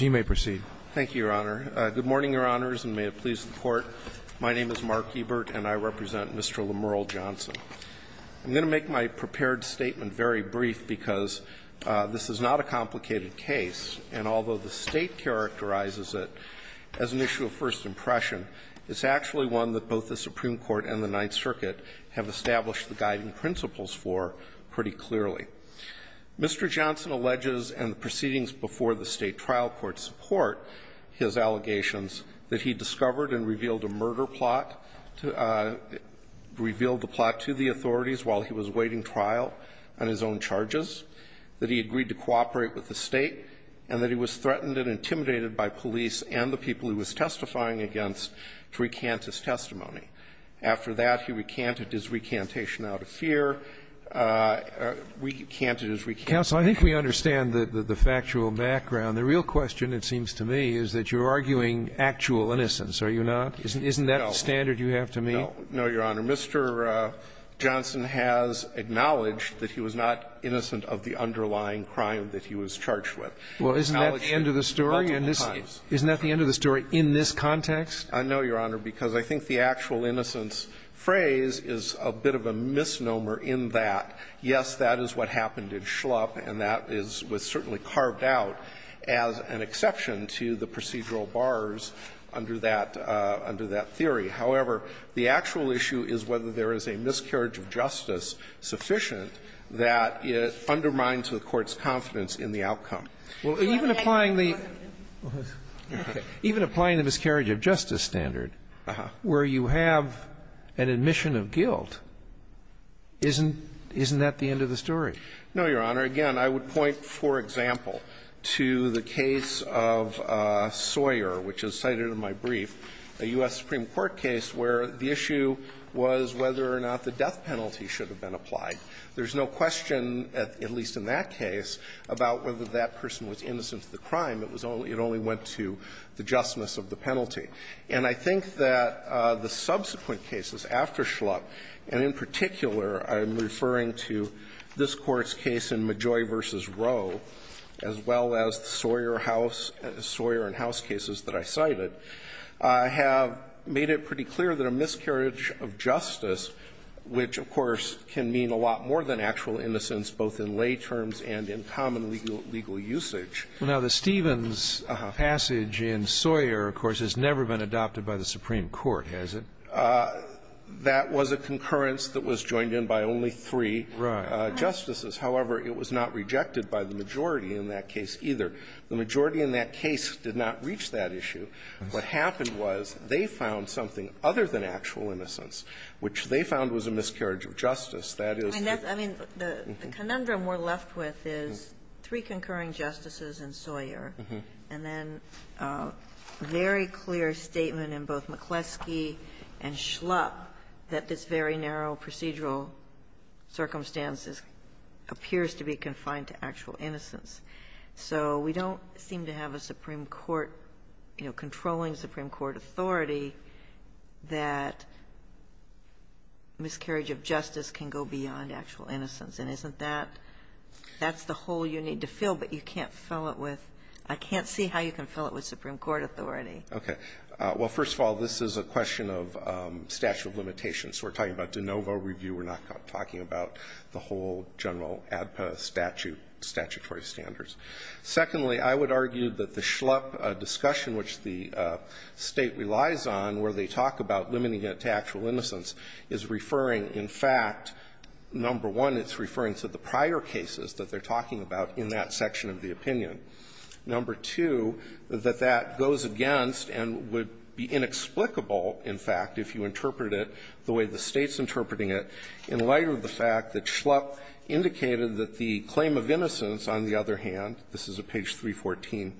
you may proceed. Thank you, Your Honor. Good morning, Your Honors, and may it please the Court. My name is Mark Ebert, and I represent Mr. Lemerle Johnson. I'm going to make my prepared statement very brief because this is not a complicated case, and although the State characterizes it as an issue of first impression, it's actually one that both the Supreme Court and the Ninth Circuit have established the guiding principles for pretty clearly. Mr. Johnson alleges, and the proceedings before the State trial court support his allegations, that he discovered and revealed a murder plot, revealed the plot to the authorities while he was awaiting trial on his own charges, that he agreed to cooperate with the State, and that he was threatened and intimidated by police and the people he was testifying against to recant his testimony. After that, he recanted his recantation out of fear. We recanted his recantation. Counsel, I think we understand the factual background. The real question, it seems to me, is that you're arguing actual innocence, are you not? Isn't that the standard you have to meet? No, Your Honor. Mr. Johnson has acknowledged that he was not innocent of the underlying crime that he was charged with. Well, isn't that the end of the story? Isn't that the end of the story in this context? I know, Your Honor, because I think the actual innocence phrase is a bit of a misnomer in that, yes, that is what happened in Schlupp, and that is what's certainly carved out as an exception to the procedural bars under that theory. However, the actual issue is whether there is a miscarriage of justice sufficient that undermines the Court's confidence in the outcome. Well, even applying the the miscarriage of justice standard, where you have an admission of guilt, isn't that the end of the story? No, Your Honor. Again, I would point, for example, to the case of Sawyer, which is cited in my brief, a U.S. Supreme Court case where the issue was whether or not the death penalty should have been applied. There's no question, at least in that case, about whether that person was innocent of the crime. It only went to the justness of the penalty. And I think that the subsequent cases after Schlupp, and in particular I'm referring to this Court's case in Majoy v. Rowe, as well as the Sawyer house – Sawyer and house cases that I cited, have made it pretty clear that a miscarriage of justice, which, of course, can mean a lot more than actual innocence, both in lay terms and in common legal usage. Well, now, the Stevens passage in Sawyer, of course, has never been adopted by the Supreme Court, has it? That was a concurrence that was joined in by only three justices. However, it was not rejected by the majority in that case either. The majority in that case did not reach that issue. What happened was they found something other than actual innocence, which they found was a miscarriage of justice, that is the – in Sawyer, and then a very clear statement in both McCleskey and Schlupp that this very narrow procedural circumstances appears to be confined to actual innocence. So we don't seem to have a Supreme Court, you know, controlling Supreme Court authority that miscarriage of justice can go beyond actual innocence. And isn't that – that's the hole you need to fill, but you can't fill it with – I can't see how you can fill it with Supreme Court authority. Okay. Well, first of all, this is a question of statute of limitations. We're talking about de novo review. We're not talking about the whole general ADPA statute, statutory standards. Secondly, I would argue that the Schlupp discussion, which the State relies on, where they talk about limiting it to actual innocence, is referring, in fact, number one, it's referring to the prior cases that they're talking about in that section of the opinion. Number two, that that goes against and would be inexplicable, in fact, if you interpret it the way the State's interpreting it, in light of the fact that Schlupp indicated that the claim of innocence, on the other hand, this is at page 314,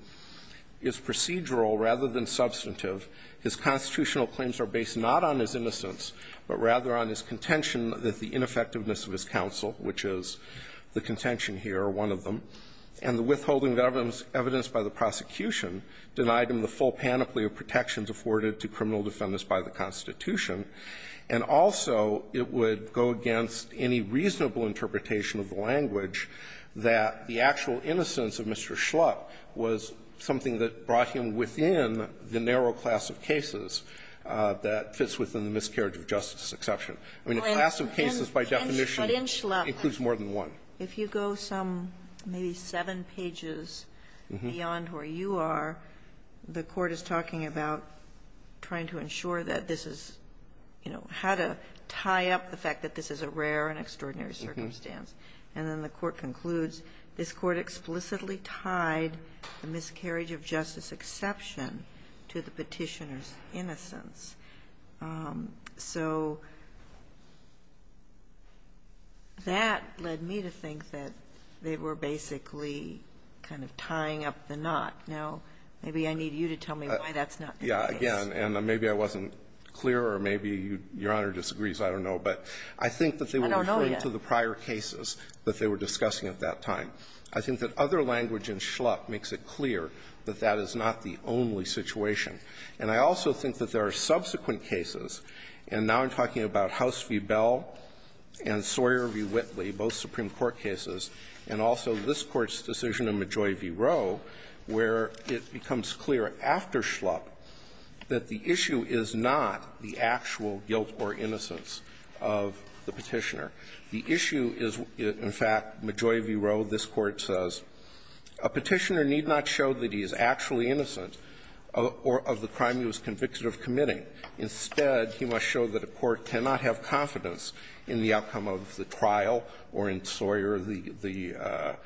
is procedural rather than substantive. His constitutional claims are based not on his innocence, but rather on his contention that the ineffectiveness of his counsel, which is the contention here, are one of them, and the withholding of evidence by the prosecution denied him the full panoply of protections afforded to criminal defendants by the Constitution. And also, it would go against any reasonable interpretation of the language that the actual innocence of Mr. Schlupp was something that brought him within the narrow class of cases that fits within the miscarriage of justice exception. I mean, a class of cases, by definition, includes more than one. Kagan. If you go some, maybe seven pages beyond where you are, the Court is talking about trying to ensure that this is, you know, how to tie up the fact that this is a rare and extraordinary circumstance. And then the Court concludes this Court explicitly tied the miscarriage of justice exception to the Petitioner's innocence. So that led me to think that they were basically kind of tying up the knot. Now, maybe I need you to tell me why that's not the case. Yeah. Again, and maybe I wasn't clear, or maybe Your Honor disagrees. I don't know. But I think that they were referring to the prior cases that they were discussing at that time. I think that other language in Schlupp makes it clear that that is not the only situation. And I also think that there are subsequent cases, and now I'm talking about House v. Bell and Sawyer v. Whitley, both Supreme Court cases, and also this Court's decision in Majoi v. Rowe, where it becomes clear after Schlupp that the issue is not the actual guilt or innocence of the Petitioner. The issue is, in fact, Majoi v. Rowe, this Court says, a Petitioner need not show that he is actually innocent or of the crime he was convicted of committing. Instead, he must show that a court cannot have confidence in the outcome of the trial or in Sawyer, the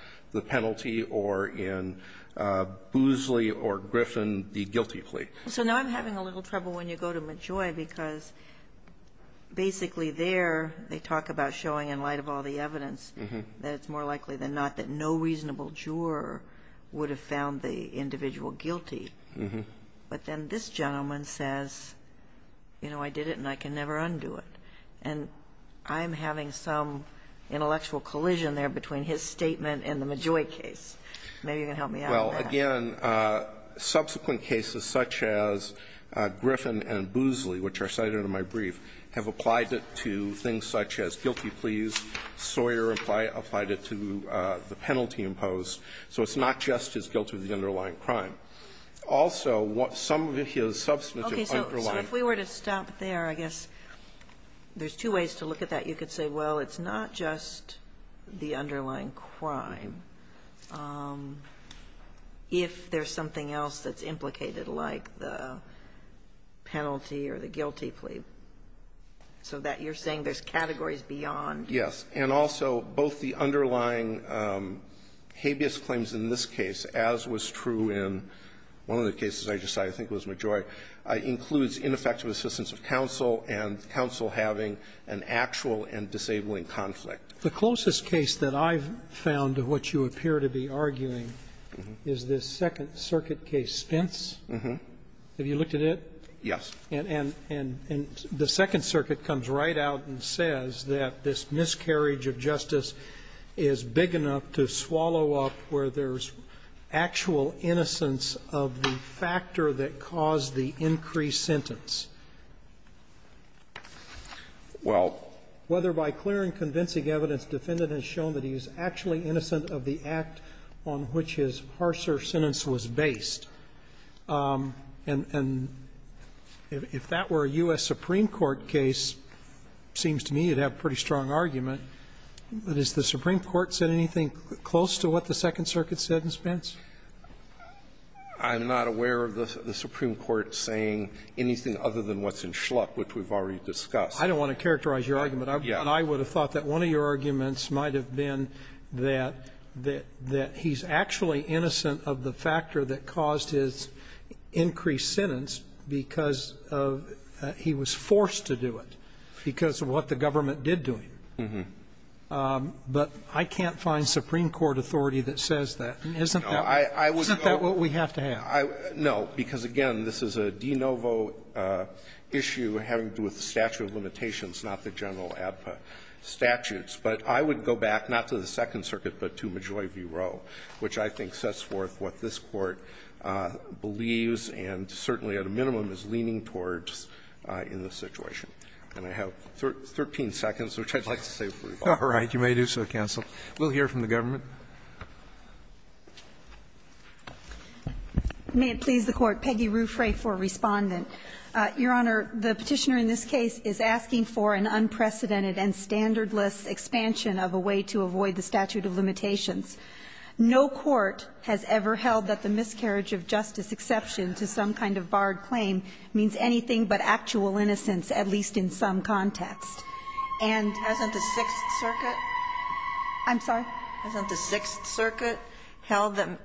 penalty, or in Boosley or Griffin, the guilty plea. So now I'm having a little trouble when you go to Majoi, because basically there they talk about showing, in light of all the evidence, that it's more likely than not that no reasonable juror would have found the individual guilty. But then this gentleman says, you know, I did it and I can never undo it. And I'm having some intellectual collision there between his statement and the Majoi case. Maybe you can help me out on that. Well, again, subsequent cases such as Griffin and Boosley, which are cited in my brief, have applied it to things such as guilty pleas. Sawyer applied it to the penalty imposed. So it's not just his guilt of the underlying crime. Also, some of his substantive underlying crime. Okay. So if we were to stop there, I guess there's two ways to look at that. You could say, well, it's not just the underlying crime if there's something else that's implicated, like the penalty or the guilty plea, so that you're saying there's categories beyond. Yes. And also, both the underlying habeas claims in this case, as was true in one of the cases I just cited, I think it was Majoi, includes ineffective assistance of counsel and counsel having an actual and disabling conflict. The closest case that I've found to what you appear to be arguing is this Second Circuit case, Spence. Have you looked at it? Yes. And the Second Circuit comes right out and says that this miscarriage of justice is big enough to swallow up where there's actual innocence of the factor that caused the increased sentence. Well. Well, whether by clear and convincing evidence, defendant has shown that he is actually innocent of the act on which his harsher sentence was based. And if that were a U.S. Supreme Court case, it seems to me you'd have a pretty strong argument. But has the Supreme Court said anything close to what the Second Circuit said in Spence? I'm not aware of the Supreme Court saying anything other than what's in Schluck, which we've already discussed. I don't want to characterize your argument. Yeah. And I would have thought that one of your arguments might have been that he's actually innocent of the factor that caused his increased sentence because he was forced to do it because of what the government did to him. But I can't find Supreme Court authority that says that. Isn't that what we have to have? No, because, again, this is a de novo issue having to do with the statute of limitations, not the general ADPA statutes. But I would go back not to the Second Circuit, but to Majoi v. Roe, which I think sets forth what this Court believes and certainly at a minimum is leaning towards in this situation. And I have 13 seconds, which I'd like to save for rebuttal. All right. You may do so, counsel. We'll hear from the government. May it please the Court. Peggy Ruffray for Respondent. Your Honor, the Petitioner in this case is asking for an unprecedented and standardless expansion of a way to avoid the statute of limitations. No court has ever held that the miscarriage of justice exception to some kind of barred claim means anything but actual innocence, at least in some context. And the Sixth Circuit? I'm sorry? Isn't the Sixth Circuit held that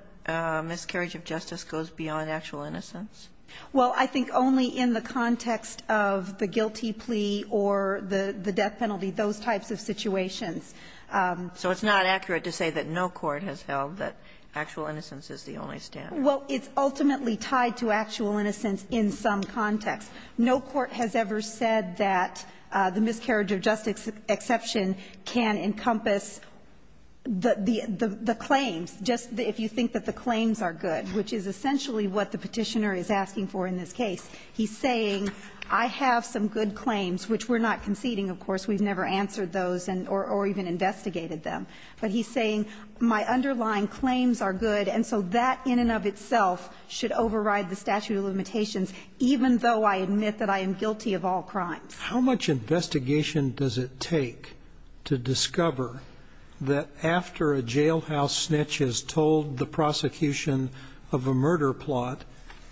miscarriage of justice goes beyond actual innocence? Well, I think only in the context of the guilty plea or the death penalty, those types of situations. So it's not accurate to say that no court has held that actual innocence is the only standard? Well, it's ultimately tied to actual innocence in some context. No court has ever said that the miscarriage of justice exception can encompass the claims, just if you think that the claims are good, which is essentially what the Petitioner is asking for in this case. He's saying I have some good claims, which we're not conceding, of course. We've never answered those or even investigated them. But he's saying my underlying claims are good, and so that in and of itself should override the statute of limitations, even though I admit that I am guilty of all crimes. How much investigation does it take to discover that after a jailhouse snitch has told the prosecution of a murder plot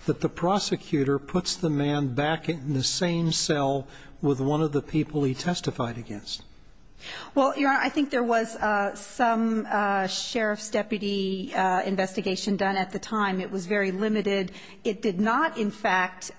that the prosecutor puts the man back in the same cell with one of the people he testified against? Well, Your Honor, I think there was some sheriff's deputy investigation done at the time. It was very limited. It did not, in fact,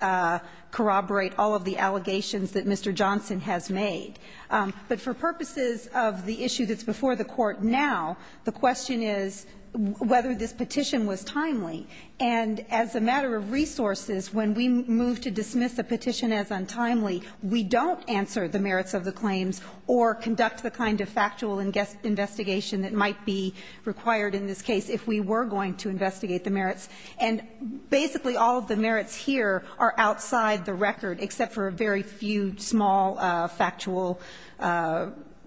corroborate all of the allegations that Mr. Johnson has made. But for purposes of the issue that's before the Court now, the question is whether this petition was timely. And as a matter of resources, when we move to dismiss a petition as untimely, we don't answer the merits of the claims or conduct the kind of factual investigation that might be required in this case if we were going to investigate the merits. And basically, all of the merits here are outside the record, except for a very few small factual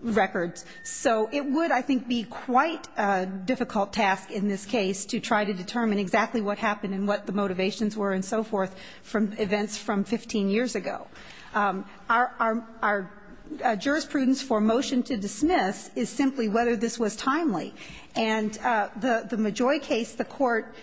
records. So it would, I think, be quite a difficult task in this case to try to determine exactly what happened and what the motivations were and so forth from events from 15 years ago. Our jurisprudence for motion to dismiss is simply whether this was timely. And the Majoi case, the Court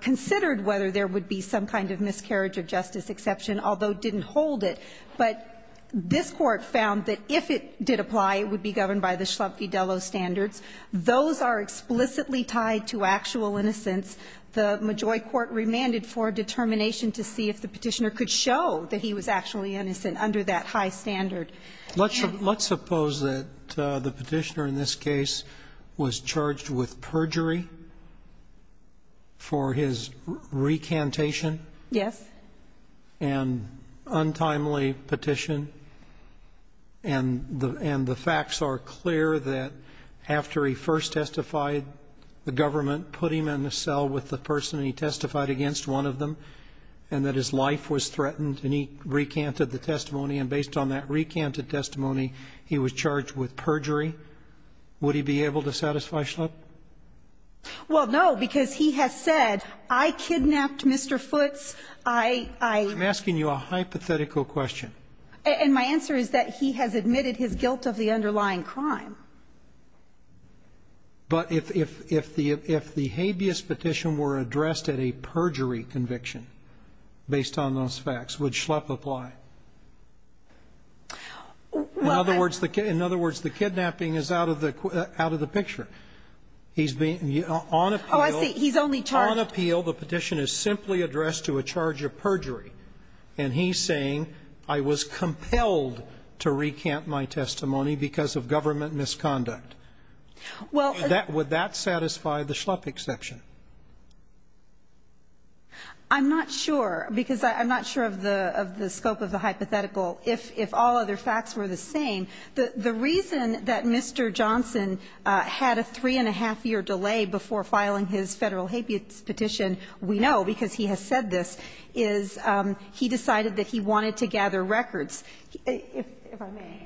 considered whether there would be some kind of miscarriage of justice exception, although it didn't hold it. But this Court found that if it did apply, it would be governed by the Schlumpfi-Dello standards. Those are explicitly tied to actual innocence. The Majoi court remanded for determination to see if the petitioner could show that he was actually innocent under that high standard. Roberts. Let's suppose that the petitioner in this case was charged with perjury for his recantation. Yes. And untimely petition. And the facts are clear that after he first testified, the government put him in a cell with the person he testified against, one of them, and that his life was threatened and he recanted the testimony, and based on that recanted testimony, he was charged with perjury. Would he be able to satisfy Schlumpf? Well, no, because he has said, I kidnapped Mr. Futz, I ---- I'm asking you a hypothetical question. And my answer is that he has admitted his guilt of the underlying crime. But if the habeas petition were addressed at a perjury conviction, based on those facts, would Schlumpf apply? In other words, the kidnapping is out of the picture. He's being ---- Oh, I see. He's only charged ---- On appeal, the petition is simply addressed to a charge of perjury. And he's saying, I was compelled to recant my testimony because of government misconduct. Would that satisfy the Schlumpf exception? I'm not sure, because I'm not sure of the scope of the hypothetical. If all other facts were the same, the reason that Mr. Johnson had a three-and-a-half year delay before filing his Federal habeas petition, we know because he has said this, is he decided that he wanted to gather records. If I may.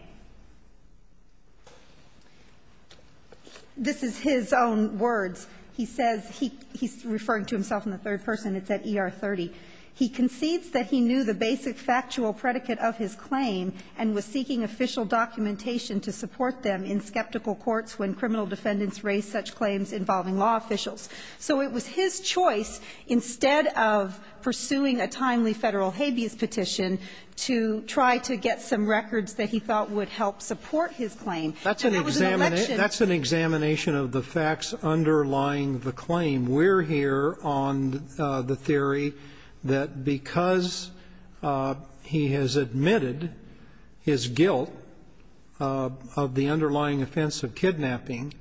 This is his own words. He says he's referring to himself in the third person. It's at ER 30. He concedes that he knew the basic factual predicate of his claim and was seeking official documentation to support them in skeptical courts when criminal defendants raised such claims involving law officials. So it was his choice, instead of pursuing a timely Federal habeas petition, to try to get some records that he thought would help support his claim. And that was an election ---- Sotomayor, if I may, I would like to ask you about Schlumpf-Vidello's underlying the claim. We're here on the theory that because he has admitted his guilt of the underlying offense of kidnapping,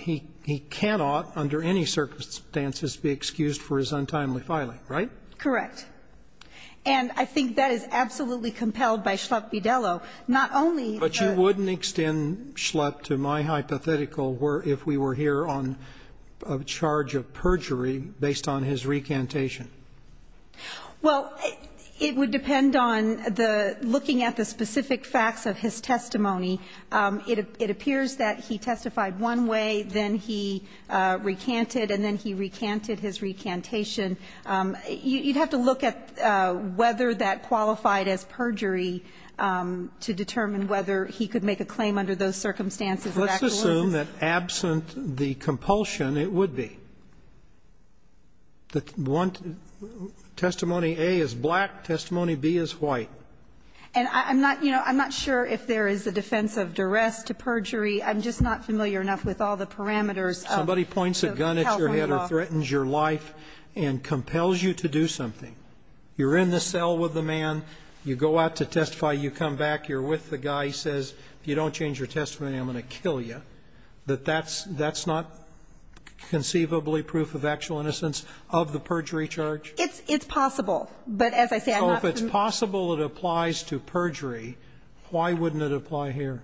he cannot, under any circumstances, be excused for his untimely filing, right? Correct. And I think that is absolutely compelled by Schlumpf-Vidello. Not only the ---- But you wouldn't extend Schlumpf to my hypothetical if we were here on a charge of perjury based on his recantation. Well, it would depend on the ---- looking at the specific facts of his testimony. It appears that he testified one way, then he recanted, and then he recanted his recantation. You'd have to look at whether that qualified as perjury to determine whether he could make a claim under those circumstances of actuality. Let's assume that absent the compulsion, it would be. Testimony A is black, testimony B is white. And I'm not sure if there is a defense of duress to perjury. I'm just not familiar enough with all the parameters of the California law. But if you're in the cell with the man, you go out to testify, you come back, you're with the guy, he says, if you don't change your testimony, I'm going to kill you, that that's not conceivably proof of actual innocence of the perjury charge? It's possible. But as I said, I'm not familiar. So if it's possible it applies to perjury, why wouldn't it apply here?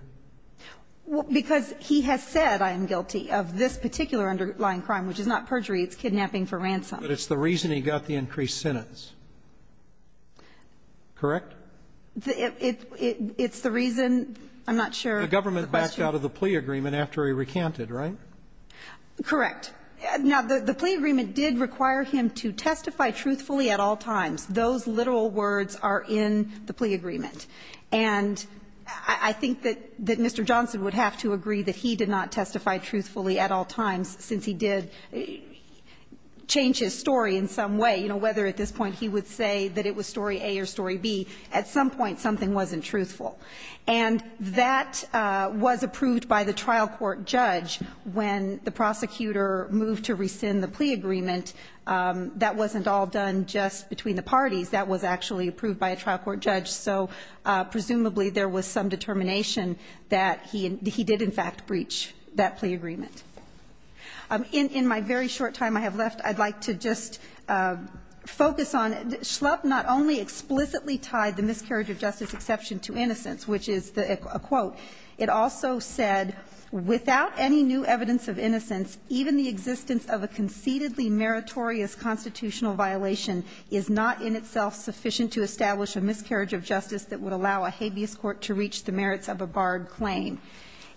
Because he has said, I am guilty of this particular underlying crime, which is not perjury, it's kidnapping for ransom. But it's the reason he got the increased sentence. Correct? It's the reason, I'm not sure. The government backed out of the plea agreement after he recanted, right? Correct. Now, the plea agreement did require him to testify truthfully at all times. Those literal words are in the plea agreement. And I think that Mr. Johnson would have to agree that he did not testify truthfully at all times since he did change his story in some way. You know, whether at this point he would say that it was story A or story B, at some point something wasn't truthful. And that was approved by the trial court judge when the prosecutor moved to rescind the plea agreement. That wasn't all done just between the parties, that was actually approved by a trial court judge. So presumably there was some determination that he did, in fact, breach that plea agreement. In my very short time I have left, I'd like to just focus on, Schlupp not only explicitly tied the miscarriage of justice exception to innocence, which is a quote. It also said, without any new evidence of innocence, even the existence of a conceitedly meritorious constitutional violation is not in itself sufficient to establish a miscarriage of justice that would allow a habeas court to reach the merits of a barred claim.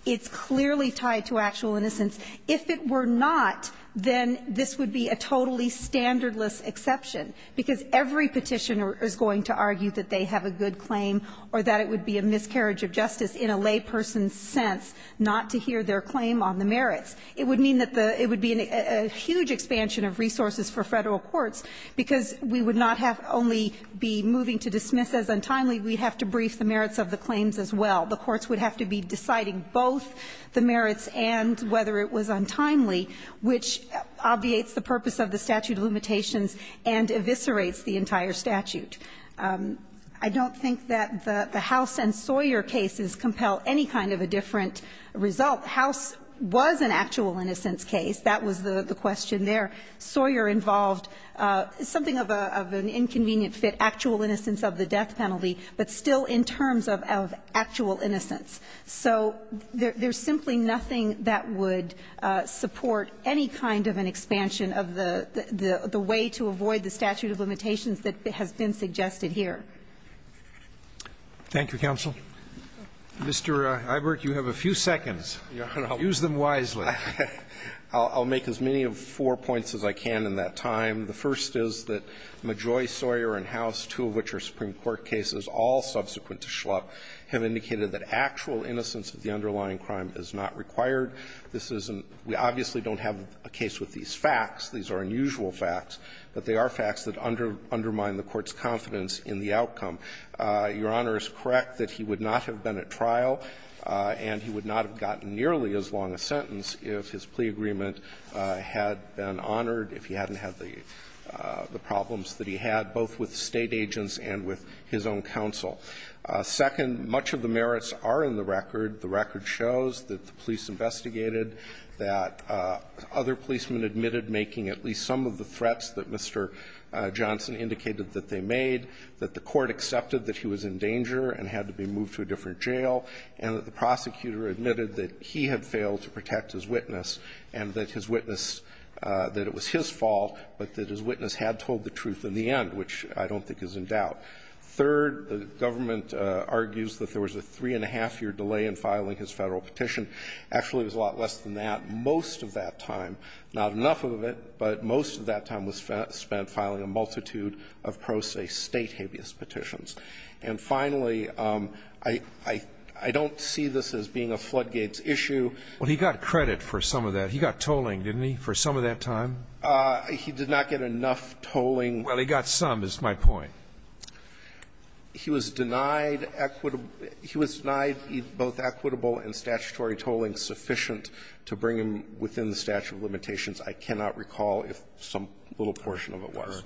It's clearly tied to actual innocence. If it were not, then this would be a totally standardless exception. Because every petitioner is going to argue that they have a good claim, or that it would be a miscarriage of justice in a layperson's sense, not to hear their claim on the merits. It would mean that the, it would be a huge expansion of resources for federal courts, because we would not have only be moving to dismiss as untimely, we'd have to brief the merits of the claims as well. The courts would have to be deciding both the merits and whether it was untimely, which obviates the purpose of the statute of limitations and eviscerates the entire statute. I don't think that the House and Sawyer cases compel any kind of a different result. House was an actual innocence case. That was the question there. Sawyer involved something of an inconvenient fit, actual innocence of the death penalty, but still in terms of actual innocence. So there's simply nothing that would support any kind of an expansion of the way to avoid the statute of limitations that has been suggested here. Roberts. Thank you, counsel. Mr. Eibert, you have a few seconds. Use them wisely. I'll make as many of four points as I can in that time. The first is that Majoy, Sawyer, and House, two of which are Supreme Court cases, all subsequent to Schlupp, have indicated that actual innocence of the underlying crime is not required. This isn't we obviously don't have a case with these facts. These are unusual facts, but they are facts that undermine the Court's confidence in the outcome. Your Honor is correct that he would not have been at trial and he would not have gotten nearly as long a sentence if his plea agreement had been honored, if he hadn't had the problems that he had, both with State agents and with his own counsel. Second, much of the merits are in the record. The record shows that the police investigated, that other policemen admitted making at least some of the threats that Mr. Johnson indicated that they made, that the Court accepted that he was in danger and had to be moved to a different jail, and that the prosecutor admitted that he had failed to protect his witness and that his witness, that it was his fault, but that his witness had told the truth in the end, which I don't think is in doubt. Third, the government argues that there was a three-and-a-half-year delay in filing his Federal petition. Actually, it was a lot less than that. Most of that time, not enough of it, but most of that time was spent filing a multitude of pro se State habeas petitions. And finally, I don't see this as being a floodgates issue. Scalia, he got credit for some of that. He got tolling, didn't he, for some of that time? He did not get enough tolling. Well, he got some, is my point. He was denied equitable he was denied both equitable and statutory tolling sufficient to bring him within the statute of limitations. I cannot recall if some little portion of it was.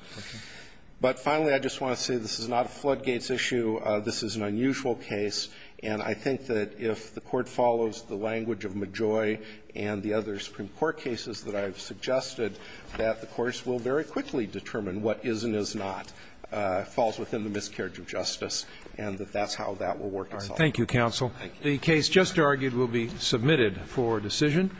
But finally, I just want to say this is not a floodgates issue. This is an unusual case. And I think that if the Court follows the language of Majoy and the other Supreme Court cases that I've suggested, that the courts will very quickly determine what is and is not falls within the miscarriage of justice, and that that's how that will work itself out. Thank you, counsel. The case just argued will be submitted for decision.